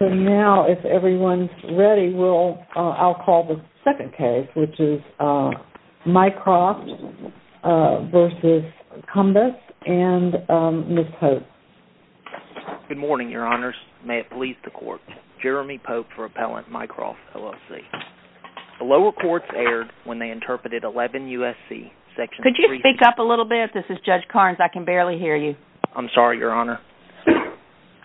Now, if everyone's ready, I'll call the second case, which is Mycroft v. Cumbess and Ms. Pope. Good morning, Your Honors. May it please the Court. Jeremy Pope for Appellant, Mycroft, LLC. The lower courts aired when they interpreted 11 U.S.C. section 3- Could you speak up a little bit? This is Judge Carnes. I can barely hear you. I'm sorry, Your Honor.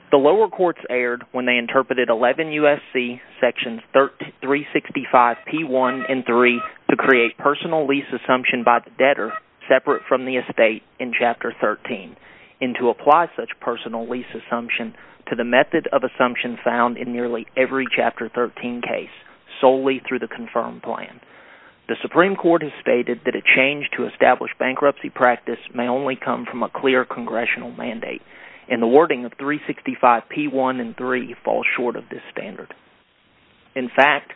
The lower courts aired when they interpreted 11 U.S.C. sections 365-P1 and 3 to create personal lease assumption by the debtor separate from the estate in Chapter 13 and to apply such personal lease assumption to the method of assumption found in nearly every Chapter 13 case solely through the confirmed plan. The Supreme Court has stated that a change to establish bankruptcy practice may only come from a clear congressional mandate, and the wording of 365-P1 and 3 falls short of this standard. In fact,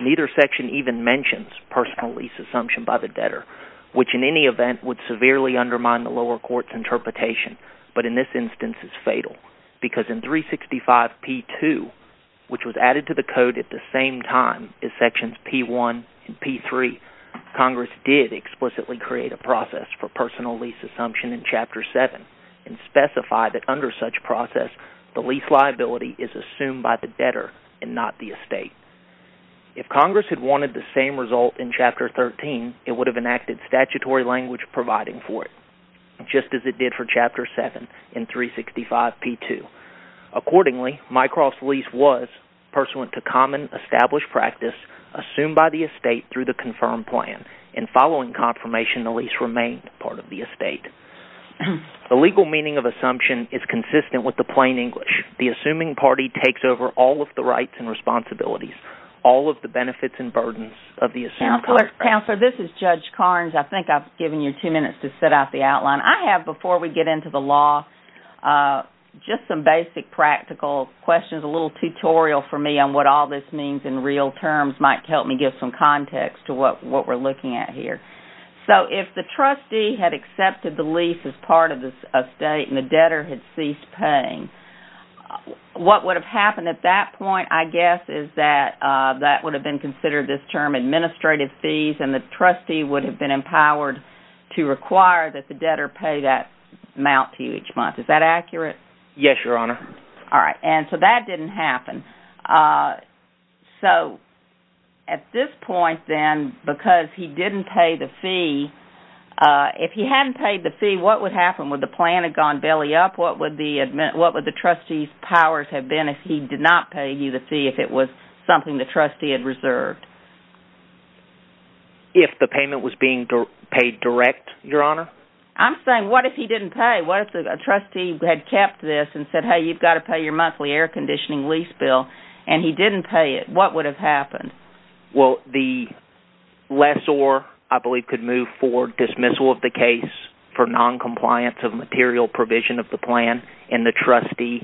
neither section even mentions personal lease assumption by the debtor, which in any event would severely undermine the lower court's interpretation, but in this instance is fatal because in 365-P2, which was added to the code at the same time as sections P1 and P3… Congress did explicitly create a process for personal lease assumption in Chapter 7 and specified that under such process, the lease liability is assumed by the debtor and not the estate. If Congress had wanted the same result in Chapter 13, it would have enacted statutory language providing for it just as it did for Chapter 7 in 365-P2. Accordingly, my cross-lease was pursuant to common established practice assumed by the estate through the confirmed plan. In following confirmation, the lease remained part of the estate. The legal meaning of assumption is consistent with the plain English. The assuming party takes over all of the rights and responsibilities, all of the benefits and burdens of the assumed contract. Counselor, this is Judge Carnes. I think I've given you two minutes to set out the outline. I have, before we get into the law, just some basic practical questions, a little tutorial for me on what all this means in real terms might help me give some context to what we're looking at here. If the trustee had accepted the lease as part of the estate and the debtor had ceased paying, what would have happened at that point, I guess, is that that would have been considered this term administrative fees and the trustee would have been empowered to require that the debtor pay that amount to you each month. Is that accurate? Yes, Your Honor. All right, and so that didn't happen. So at this point, then, because he didn't pay the fee, if he hadn't paid the fee, what would happen? Would the plan have gone belly up? What would the trustee's powers have been if he did not pay you the fee, if it was something the trustee had reserved? If the payment was being paid direct, Your Honor? I'm saying, what if he didn't pay? What if the trustee had kept this and said, hey, you've got to pay your monthly air conditioning lease bill, and he didn't pay it, what would have happened? Well, the lessor, I believe, could move for dismissal of the case for noncompliance of material provision of the plan, and the trustee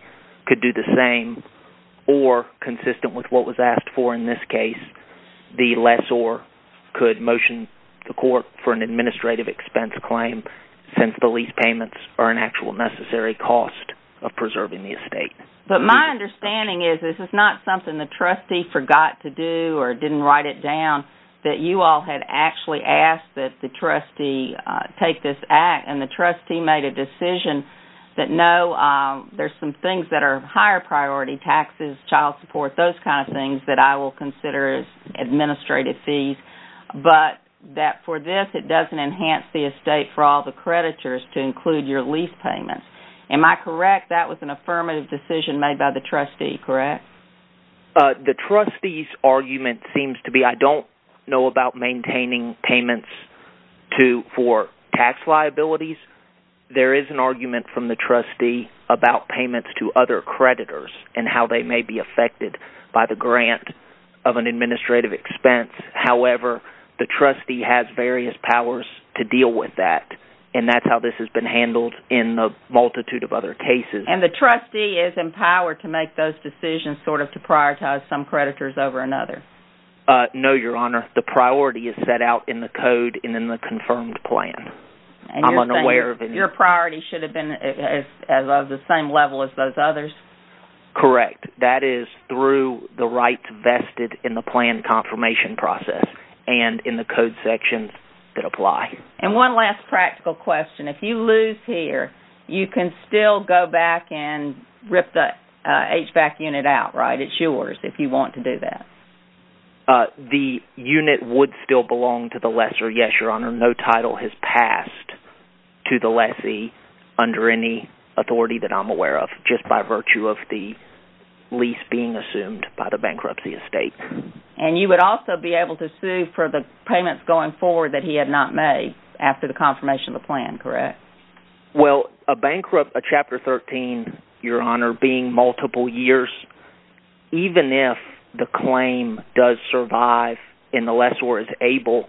could do the same. Or, consistent with what was asked for in this case, the lessor could motion to court for an administrative expense claim since the lease payments are an actual necessary cost of preserving the estate. But my understanding is this is not something the trustee forgot to do or didn't write it down, that you all had actually asked that the trustee take this act, and the trustee made a decision that, no, there's some things that are higher priority, taxes, child support, those kind of things, that I will consider as administrative fees, but that for this, it doesn't enhance the estate for all the creditors to include your lease payments. Am I correct? That was an affirmative decision made by the trustee, correct? The trustee's argument seems to be, I don't know about maintaining payments for tax liabilities. There is an argument from the trustee about payments to other creditors and how they may be affected by the grant of an administrative expense. However, the trustee has various powers to deal with that, and that's how this has been handled in a multitude of other cases. And the trustee is empowered to make those decisions, sort of to prioritize some creditors over another? No, Your Honor. The priority is set out in the code and in the confirmed plan. I'm unaware of any... Your priority should have been of the same level as those others? Correct. That is through the rights vested in the plan confirmation process and in the code sections that apply. And one last practical question. If you lose here, you can still go back and rip the HVAC unit out, right? It's yours if you want to do that. The unit would still belong to the lessor, yes, Your Honor. No title has passed to the lessee under any authority that I'm aware of, just by virtue of the lease being assumed by the bankruptcy estate. And you would also be able to sue for the payments going forward that he had not made after the confirmation of the plan, correct? Well, a chapter 13, Your Honor, being multiple years, even if the claim does survive and the lessor is able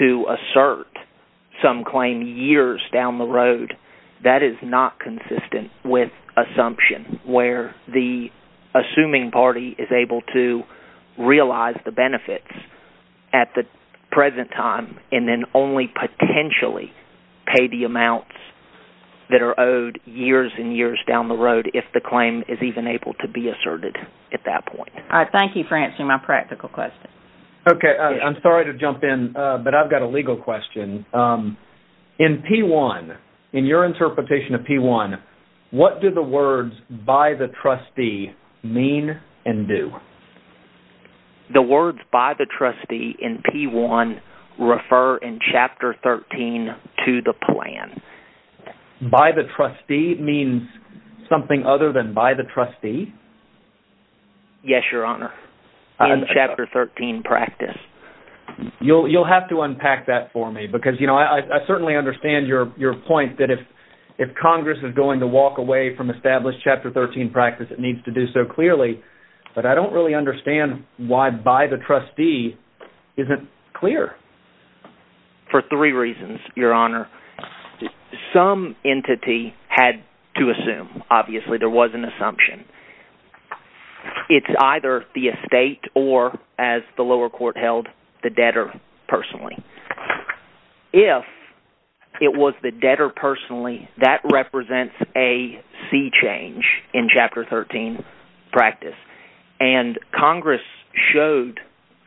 to assert some claim years down the road… I'm not consistent with assumption where the assuming party is able to realize the benefits at the present time and then only potentially pay the amounts that are owed years and years down the road if the claim is even able to be asserted at that point. Thank you for answering my practical question. Okay, I'm sorry to jump in, but I've got a legal question. In P1, in your interpretation of P1, what do the words by the trustee mean and do? The words by the trustee in P1 refer in chapter 13 to the plan. By the trustee means something other than by the trustee? Yes, Your Honor, in chapter 13 practice. You'll have to unpack that for me because I certainly understand your point that if Congress is going to walk away from established chapter 13 practice, it needs to do so clearly. But I don't really understand why by the trustee isn't clear. For three reasons, Your Honor. Some entity had to assume. Obviously, there was an assumption. It's either the estate or, as the lower court held, the debtor personally. If it was the debtor personally, that represents a sea change in chapter 13 practice. And Congress showed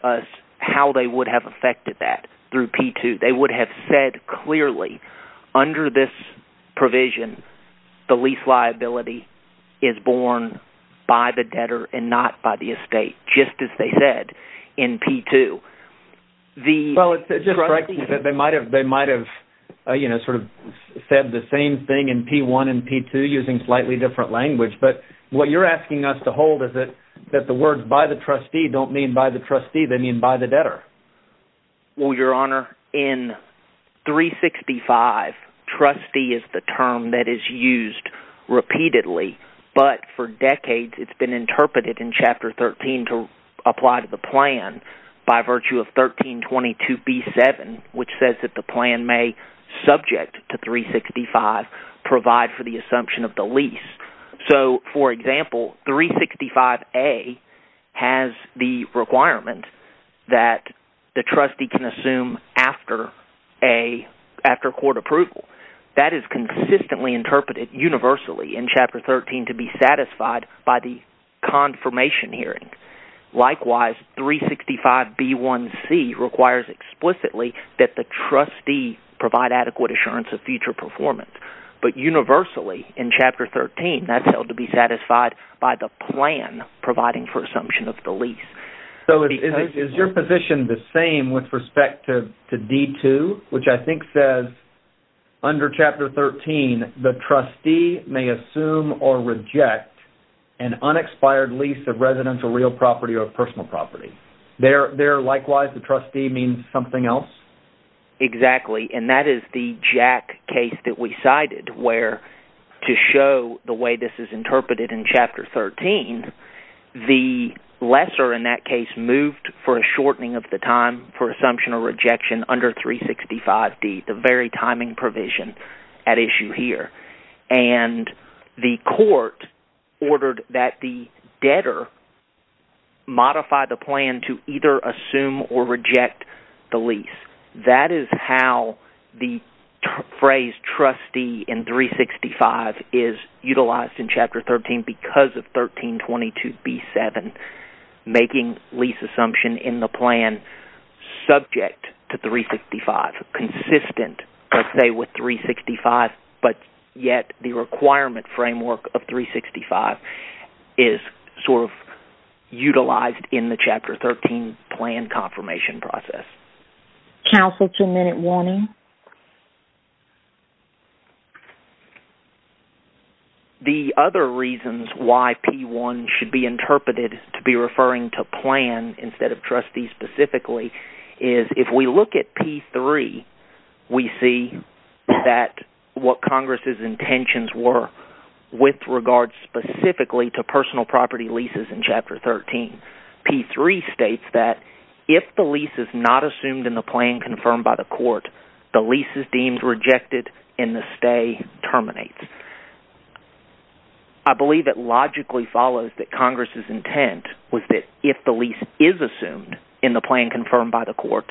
us how they would have affected that through P2. They would have said clearly under this provision, the lease liability is borne by the debtor and not by the estate, just as they said in P2. They might have said the same thing in P1 and P2 using slightly different language. But what you're asking us to hold is that the words by the trustee don't mean by the trustee. They mean by the debtor. Well, Your Honor, in 365, trustee is the term that is used repeatedly. But for decades, it's been interpreted in chapter 13 to apply to the plan by virtue of 1322B7, which says that the plan may, subject to 365, provide for the assumption of the lease. So, for example, 365A has the requirement that the trustee can assume after court approval. That is consistently interpreted universally in chapter 13 to be satisfied by the confirmation hearing. Likewise, 365B1C requires explicitly that the trustee provide adequate assurance of future performance. But universally in chapter 13, that's held to be satisfied by the plan providing for assumption of the lease. So, is your position the same with respect to D2, which I think says, under chapter 13, the trustee may assume or reject an unexpired lease of residential real property or personal property. There, likewise, the trustee means something else? Exactly, and that is the Jack case that we cited where, to show the way this is interpreted in chapter 13, the lesser in that case moved for a shortening of the time for assumption or rejection under 365D, the very timing provision at issue here. And the court ordered that the debtor modify the plan to either assume or reject the lease. That is how the phrase trustee in 365 is utilized in chapter 13 because of 1322B7, making lease assumption in the plan subject to 365, consistent, let's say, with 365, but yet the requirement framework of 365 is sort of utilized in the chapter 13 plan confirmation process. Counsel, two-minute warning. The other reasons why P1 should be interpreted to be referring to plan instead of trustee specifically is if we look at P3, we see that what Congress' intentions were with regards specifically to personal property leases in chapter 13. P3 states that if the lease is not assumed in the plan confirmed by the court, the lease is deemed rejected, and the stay terminates. I believe it logically follows that Congress' intent was that if the lease is assumed in the plan confirmed by the court,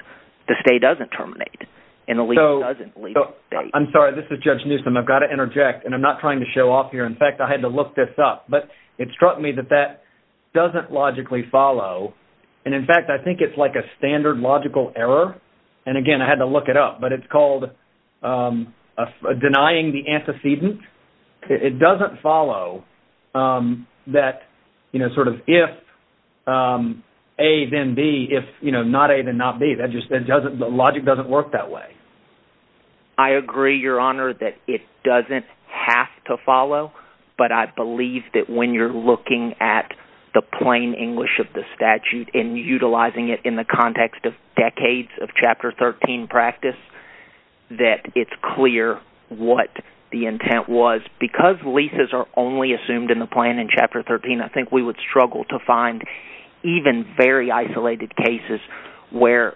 the stay doesn't terminate, and the lease doesn't leave the state. I'm sorry, this is Judge Newsom. I've got to interject, and I'm not trying to show off here. In fact, I had to look this up, but it struck me that that doesn't logically follow. And in fact, I think it's like a standard logical error. And again, I had to look it up, but it's called denying the antecedent. It doesn't follow that sort of if A, then B, if not A, then not B. The logic doesn't work that way. I agree, Your Honor, that it doesn't have to follow, but I believe that when you're looking at the plain English of the statute and utilizing it in the context of decades of chapter 13 practice, that it's clear what the intent was. Because leases are only assumed in the plan in chapter 13, I think we would struggle to find even very isolated cases where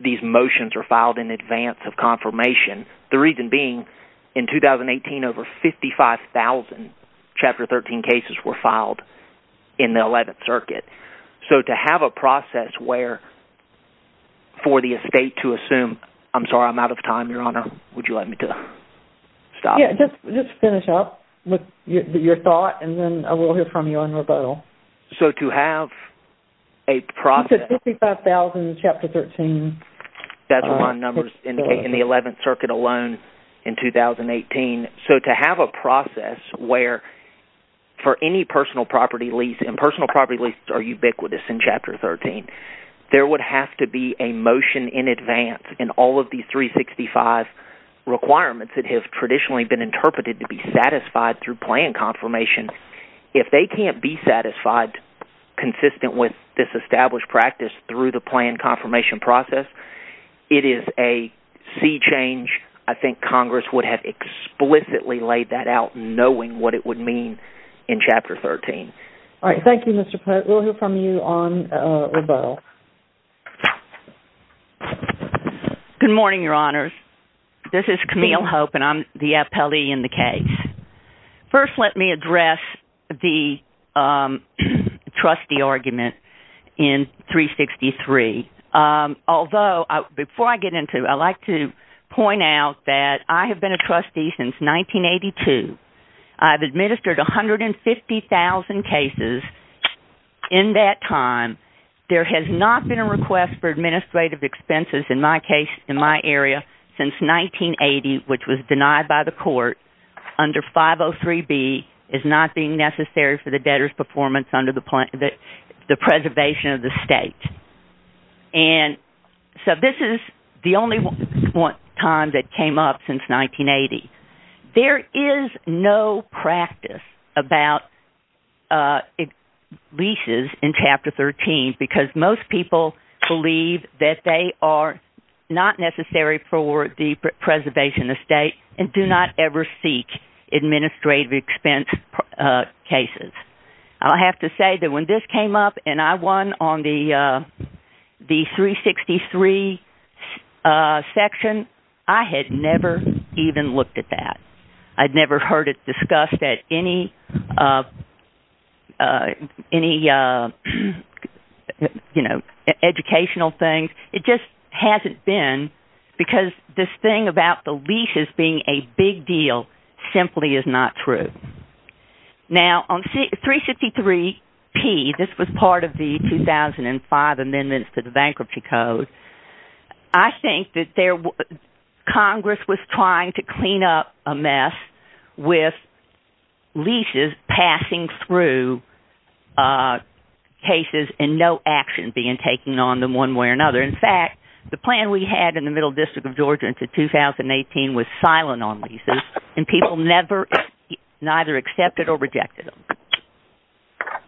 these motions are filed in advance of confirmation. The reason being in 2018, over 55,000 chapter 13 cases were filed in the 11th circuit. So to have a process where for the estate to assume – I'm sorry, I'm out of time, Your Honor. Would you like me to stop? Yeah, just finish up with your thought, and then I will hear from you on rebuttal. So to have a process – So 55,000 in chapter 13. That's what my numbers indicate in the 11th circuit alone in 2018. So to have a process where for any personal property lease – and personal property leases are ubiquitous in chapter 13. There would have to be a motion in advance in all of these 365 requirements that have traditionally been interpreted to be satisfied through plan confirmation. If they can't be satisfied consistent with this established practice through the plan confirmation process, it is a sea change. I think Congress would have explicitly laid that out knowing what it would mean in chapter 13. All right, thank you, Mr. Pitt. We'll hear from you on rebuttal. Good morning, Your Honors. This is Camille Hope, and I'm the appellee in the case. First, let me address the trustee argument in 363. Although, before I get into it, I'd like to point out that I have been a trustee since 1982. I've administered 150,000 cases in that time. There has not been a request for administrative expenses in my area since 1980, which was denied by the court under 503B, as not being necessary for the debtor's performance under the preservation of the state. And so this is the only time that came up since 1980. There is no practice about leases in chapter 13 because most people believe that they are not necessary for the preservation of state and do not ever seek administrative expense cases. I'll have to say that when this came up and I won on the 363 section, I had never even looked at that. I'd never heard it discussed at any educational thing. It just hasn't been because this thing about the leases being a big deal simply is not true. Now, on 363P, this was part of the 2005 amendments to the Bankruptcy Code, I think that Congress was trying to clean up a mess with leases passing through cases and no action being taken on them one way or another. In fact, the plan we had in the Middle District of Georgia into 2018 was silent on leases, and people neither accepted or rejected them.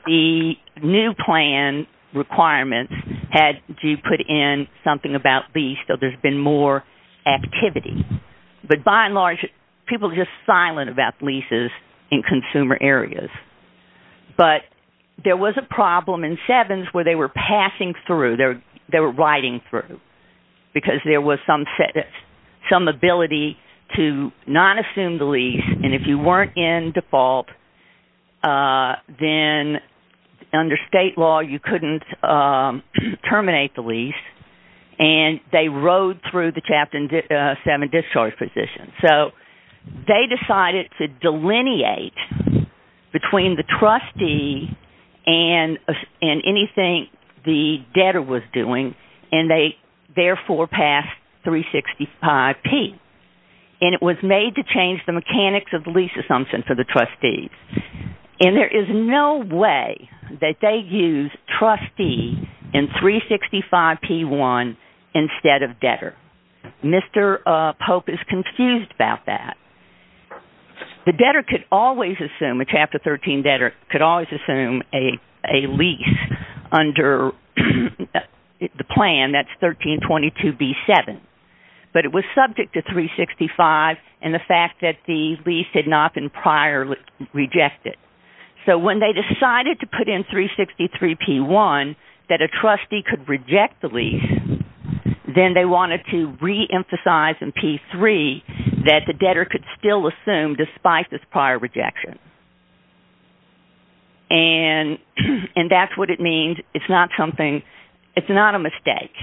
The new plan requirements had you put in something about leases, so there's been more activity. But by and large, people are just silent about leases in consumer areas. But there was a problem in sevens where they were passing through. They were riding through because there was some ability to not assume the lease. And if you weren't in default, then under state law, you couldn't terminate the lease. And they rode through the chapter seven discharge position. So they decided to delineate between the trustee and anything the debtor was doing, and they therefore passed 365P. And it was made to change the mechanics of the lease assumption for the trustees. And there is no way that they use trustee in 365P1 instead of debtor. Mr. Pope is confused about that. The debtor could always assume, a Chapter 13 debtor could always assume a lease under the plan, that's 1322B7. But it was subject to 365 and the fact that the lease had not been prior rejected. So when they decided to put in 363P1 that a trustee could reject the lease, then they wanted to reemphasize in P3 that the debtor could still assume despite this prior rejection. And that's what it means. It's not a mistake.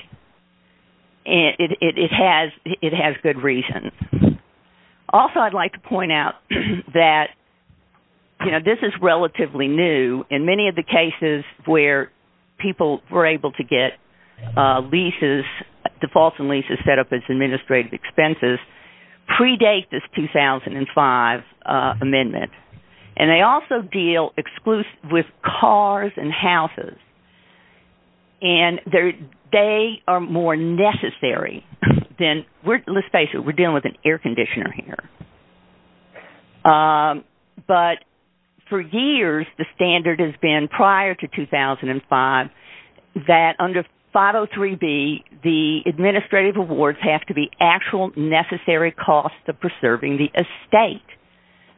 It has good reason. Also, I'd like to point out that this is relatively new. In many of the cases where people were able to get defaults and leases set up as administrative expenses predate this 2005 amendment. And they also deal exclusively with cars and houses. And they are more necessary than, let's face it, we're dealing with an air conditioner here. But for years, the standard has been prior to 2005 that under 503B, the administrative awards have to be actual necessary costs of preserving the estate.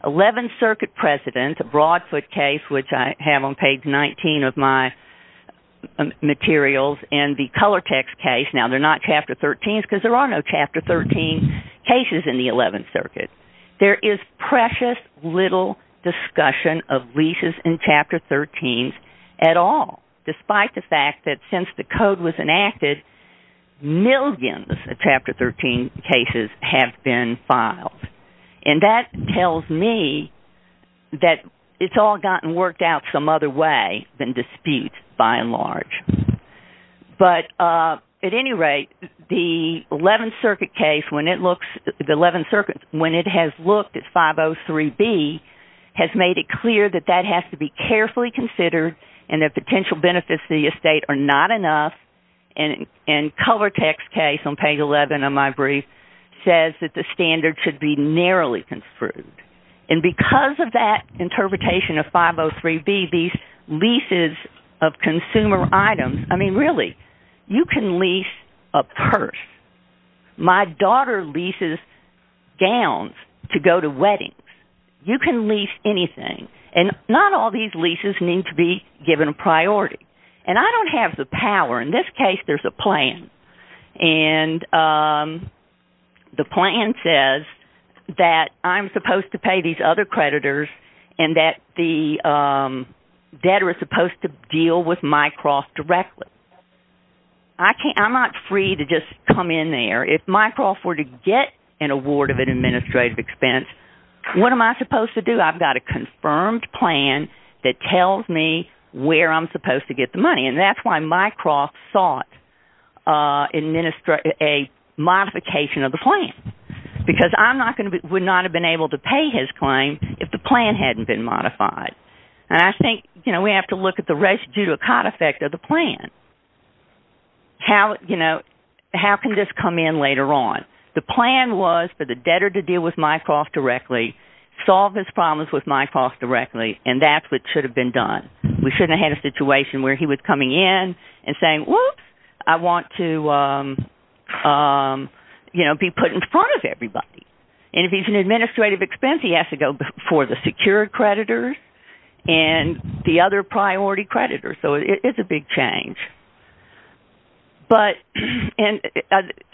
11th Circuit precedent, the Broadfoot case, which I have on page 19 of my materials, and the Colortex case, now they're not Chapter 13s because there are no Chapter 13 cases in the 11th Circuit. There is precious little discussion of leases in Chapter 13s at all. Despite the fact that since the code was enacted, millions of Chapter 13 cases have been filed. And that tells me that it's all gotten worked out some other way than dispute, by and large. But at any rate, the 11th Circuit case, when it has looked at 503B, has made it clear that that has to be carefully considered and that potential benefits to the estate are not enough. And Colortex case on page 11 of my brief says that the standard should be narrowly construed. And because of that interpretation of 503B, these leases of consumer items, I mean really, you can lease a purse. My daughter leases gowns to go to weddings. You can lease anything. And not all these leases need to be given priority. And I don't have the power. In this case, there's a plan. And the plan says that I'm supposed to pay these other creditors and that the debtor is supposed to deal with my cross directly. I'm not free to just come in there. If my cross were to get an award of an administrative expense, what am I supposed to do? Because I've got a confirmed plan that tells me where I'm supposed to get the money. And that's why Mycroft sought a modification of the plan. Because I would not have been able to pay his claim if the plan hadn't been modified. And I think we have to look at the res judicata effect of the plan. How can this come in later on? The plan was for the debtor to deal with Mycroft directly, solve his problems with Mycroft directly, and that's what should have been done. We shouldn't have had a situation where he was coming in and saying, whoops, I want to be put in front of everybody. And if he's an administrative expense, he has to go before the secured creditors and the other priority creditors. So it's a big change. But I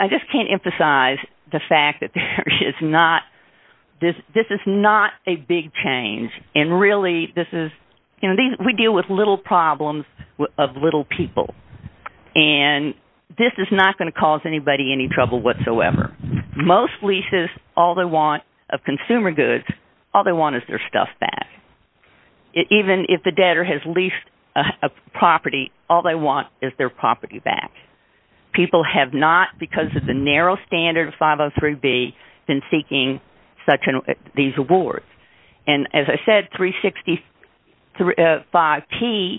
just can't emphasize the fact that this is not a big change. And really, we deal with little problems of little people. And this is not going to cause anybody any trouble whatsoever. Most leases, all they want of consumer goods, all they want is their stuff back. Even if the debtor has leased a property, all they want is their property back. People have not, because of the narrow standard of 503B, been seeking these awards. And as I said, 365P,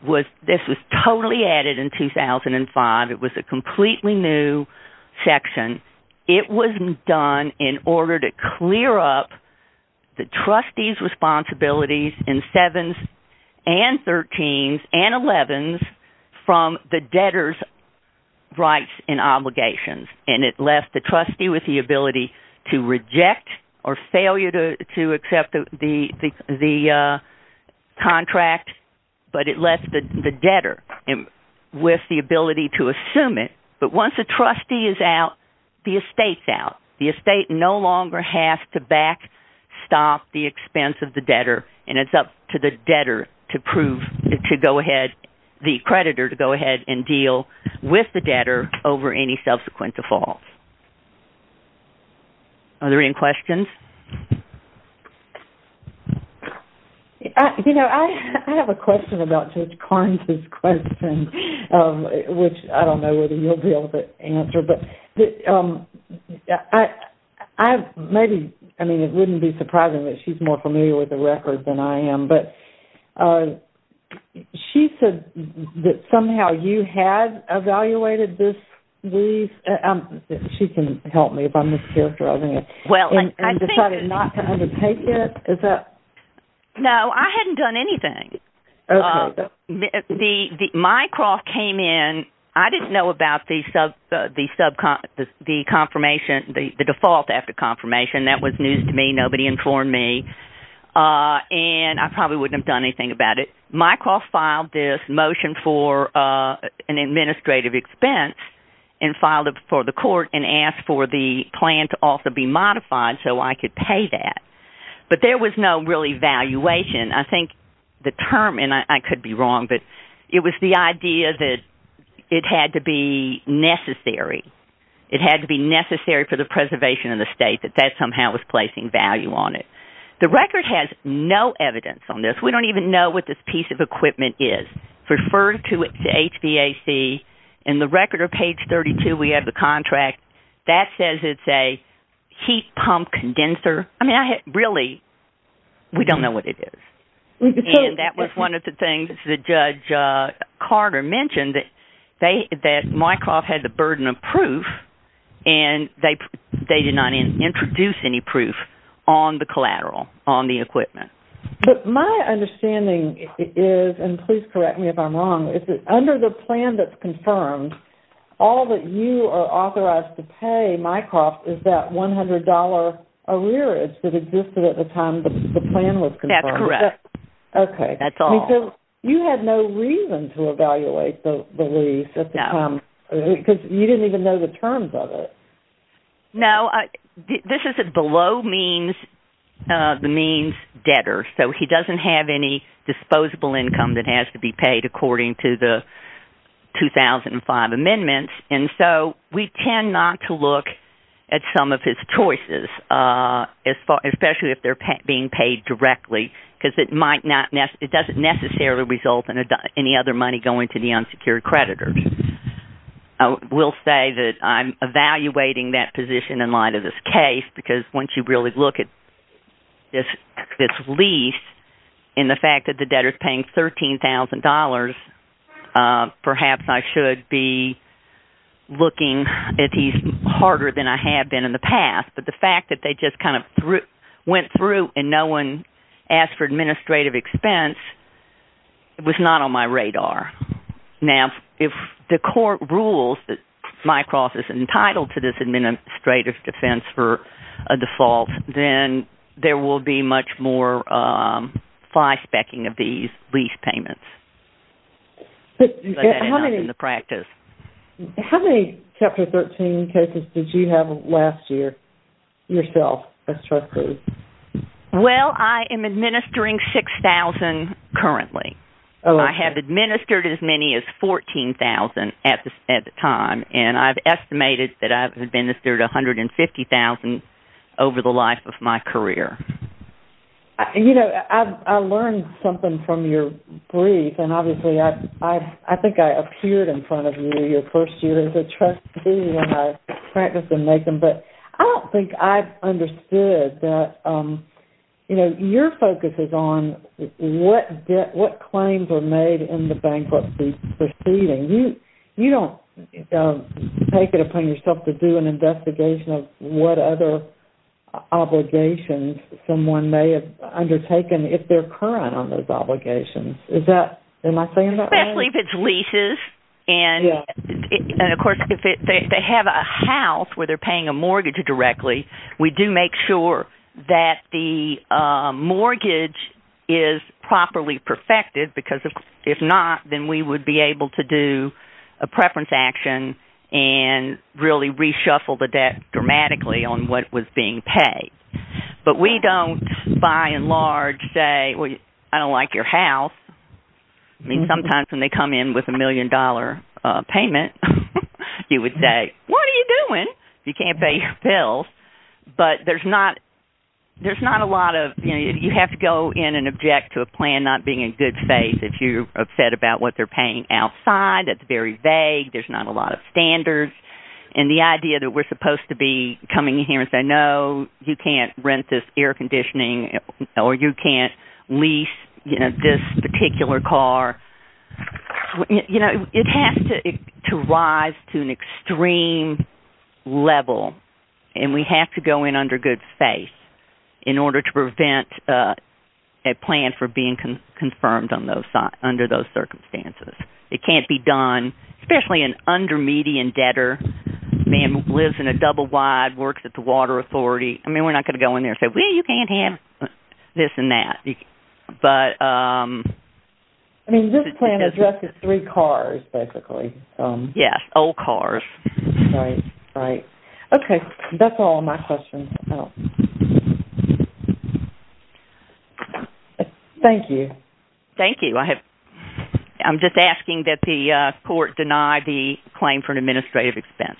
this was totally added in 2005. It was a completely new section. It was done in order to clear up the trustee's responsibilities in 7s and 13s and 11s from the debtor's rights and obligations. And it left the trustee with the ability to reject or failure to accept the contract, but it left the debtor with the ability to assume it. But once a trustee is out, the estate's out. The estate no longer has to backstop the expense of the debtor. And it's up to the creditor to go ahead and deal with the debtor over any subsequent defaults. Are there any questions? You know, I have a question about Judge Karnes' question, which I don't know whether you'll be able to answer. But maybe, I mean, it wouldn't be surprising that she's more familiar with the record than I am. But she said that somehow you had evaluated this lease. She can help me if I'm mischaracterizing it. And decided not to undertake it? No, I hadn't done anything. Okay. Mycroft came in. I didn't know about the confirmation, the default after confirmation. That was news to me. Nobody informed me. And I probably wouldn't have done anything about it. Mycroft filed this motion for an administrative expense and filed it before the court and asked for the plan to also be modified so I could pay that. But there was no real evaluation. I think the term, and I could be wrong, but it was the idea that it had to be necessary. It had to be necessary for the preservation of the estate, that that somehow was placing value on it. The record has no evidence on this. We don't even know what this piece of equipment is. Refer to it to HVAC. In the record or page 32, we have the contract. That says it's a heat pump condenser. I mean, really, we don't know what it is. And that was one of the things that Judge Carter mentioned, that Mycroft had the burden of proof, and they did not introduce any proof on the collateral, on the equipment. But my understanding is, and please correct me if I'm wrong, is that under the plan that's confirmed, all that you are authorized to pay, Mycroft, is that $100 arrearage that existed at the time the plan was confirmed. That's correct. Okay. That's all. You had no reason to evaluate the lease at the time because you didn't even know the terms of it. No. This is a below-means debtor, so he doesn't have any disposable income that has to be paid according to the 2005 amendments. And so we tend not to look at some of his choices, especially if they're being paid directly, because it doesn't necessarily result in any other money going to the unsecured creditors. I will say that I'm evaluating that position in light of this case because once you really look at this lease and the fact that the debtor is paying $13,000, perhaps I should be looking at these harder than I have been in the past. But the fact that they just kind of went through and no one asked for administrative expense was not on my radar. Now, if the court rules that Mycroft is entitled to this administrative expense for a default, then there will be much more fly-specking of these lease payments. How many Chapter 13 cases did you have last year yourself as trustee? Well, I am administering 6,000 currently. I have administered as many as 14,000 at the time, and I've estimated that I've administered 150,000 over the life of my career. You know, I learned something from your brief, and obviously I think I appeared in front of you, your first year as a trustee when I practiced in Macon, but I don't think I've understood that your focus is on what claims are made in the bankruptcy proceeding. You don't take it upon yourself to do an investigation of what other obligations someone may have undertaken if they're current on those obligations. Am I saying that right? Especially if it's leases, and, of course, if they have a house where they're paying a mortgage directly, we do make sure that the mortgage is properly perfected because if not, then we would be able to do a preference action and really reshuffle the debt dramatically on what was being paid. But we don't, by and large, say, well, I don't like your house. I mean, sometimes when they come in with a million-dollar payment, you would say, what are you doing? You can't pay your bills, but there's not a lot of – you have to go in and object to a plan not being in good faith. If you're upset about what they're paying outside, that's very vague. There's not a lot of standards, and the idea that we're supposed to be coming in here and saying, no, you can't rent this air conditioning, or you can't lease this particular car, it has to rise to an extreme level, and we have to go in under good faith in order to prevent a plan from being confirmed under those circumstances. It can't be done, especially an under-median debtor, a man who lives in a double-wide, works at the water authority. I mean, we're not going to go in there and say, well, you can't have this and that. I mean, your plan addresses three cars, basically. Yes, old cars. Right, right. Okay, that's all my questions. Thank you. Thank you. I'm just asking that the court deny the claim for an administrative expense.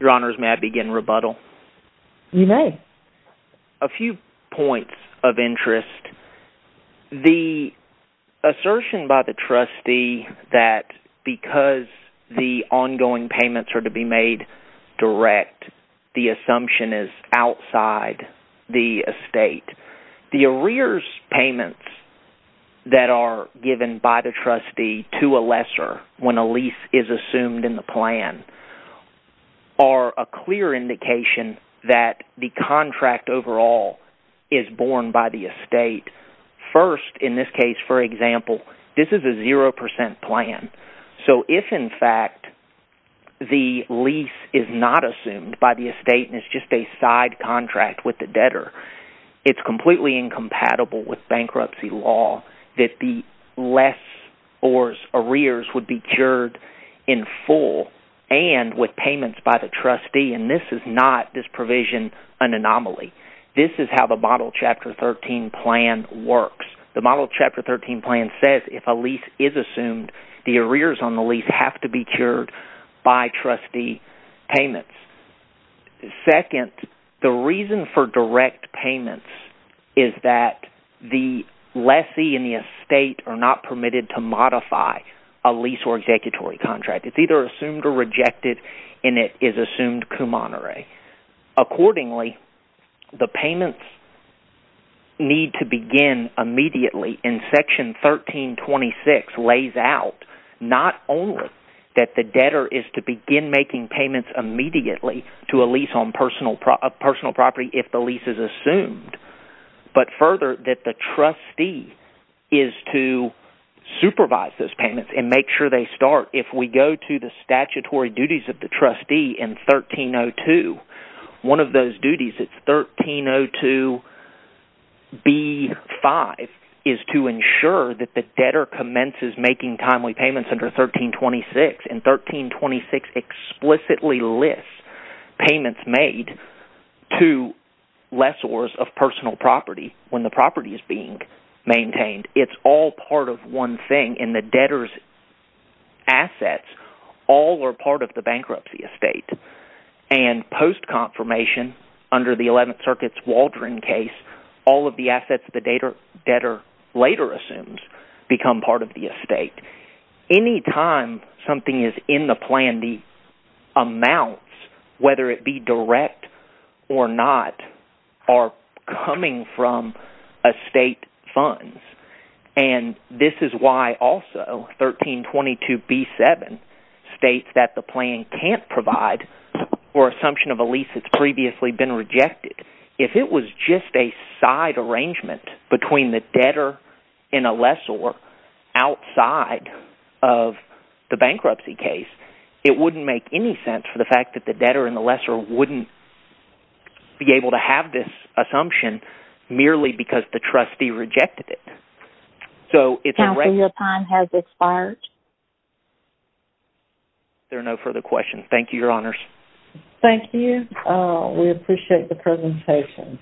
Your Honors, may I begin rebuttal? You may. A few points of interest. The assertion by the trustee that because the ongoing payments are to be made direct, the assumption is outside the estate. The arrears payments that are given by the trustee to a lesser when a lease is assumed in the plan are a clear indication that the contract overall is borne by the estate. First, in this case, for example, this is a 0% plan. So if, in fact, the lease is not assumed by the estate and it's just a side contract with the debtor, it's completely incompatible with bankruptcy law that the lessors' arrears would be cured in full and with payments by the trustee. And this is not this provision an anomaly. This is how the Model Chapter 13 plan works. The Model Chapter 13 plan says if a lease is assumed, the arrears on the lease have to be cured by trustee payments. Second, the reason for direct payments is that the lessee and the estate are not permitted to modify a lease or executory contract. It's either assumed or rejected, and it is assumed cum honore. Accordingly, the payments need to begin immediately, and Section 1326 lays out not only that the debtor is to begin making payments immediately to a lease on personal property if the lease is assumed… …but further, that the trustee is to supervise those payments and make sure they start. Or if we go to the statutory duties of the trustee in 1302, one of those duties, 1302b-5, is to ensure that the debtor commences making timely payments under 1326. And 1326 explicitly lists payments made to lessors of personal property when the property is being maintained. It's all part of one thing, and the debtor's assets all are part of the bankruptcy estate. And post-confirmation, under the 11th Circuit's Waldron case, all of the assets the debtor later assumes become part of the estate. Anytime something is in the plan, the amounts, whether it be direct or not, are coming from estate funds. And this is why also 1322b-7 states that the plan can't provide for assumption of a lease that's previously been rejected. If it was just a side arrangement between the debtor and a lessor outside of the bankruptcy case, it wouldn't make any sense for the fact that the debtor and the lessor wouldn't be able to have this assumption merely because the trustee rejected it. Counsel, your time has expired. Is there no further questions? Thank you, Your Honors. Thank you. We appreciate the presentation.